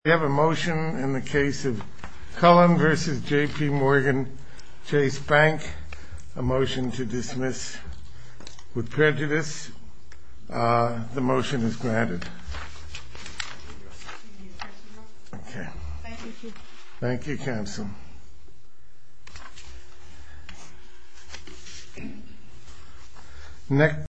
We have a motion in the case of Cullen v. JP Morgan Chase Bank, a motion to dismiss with prejudice. The motion is granted. Thank you, Council.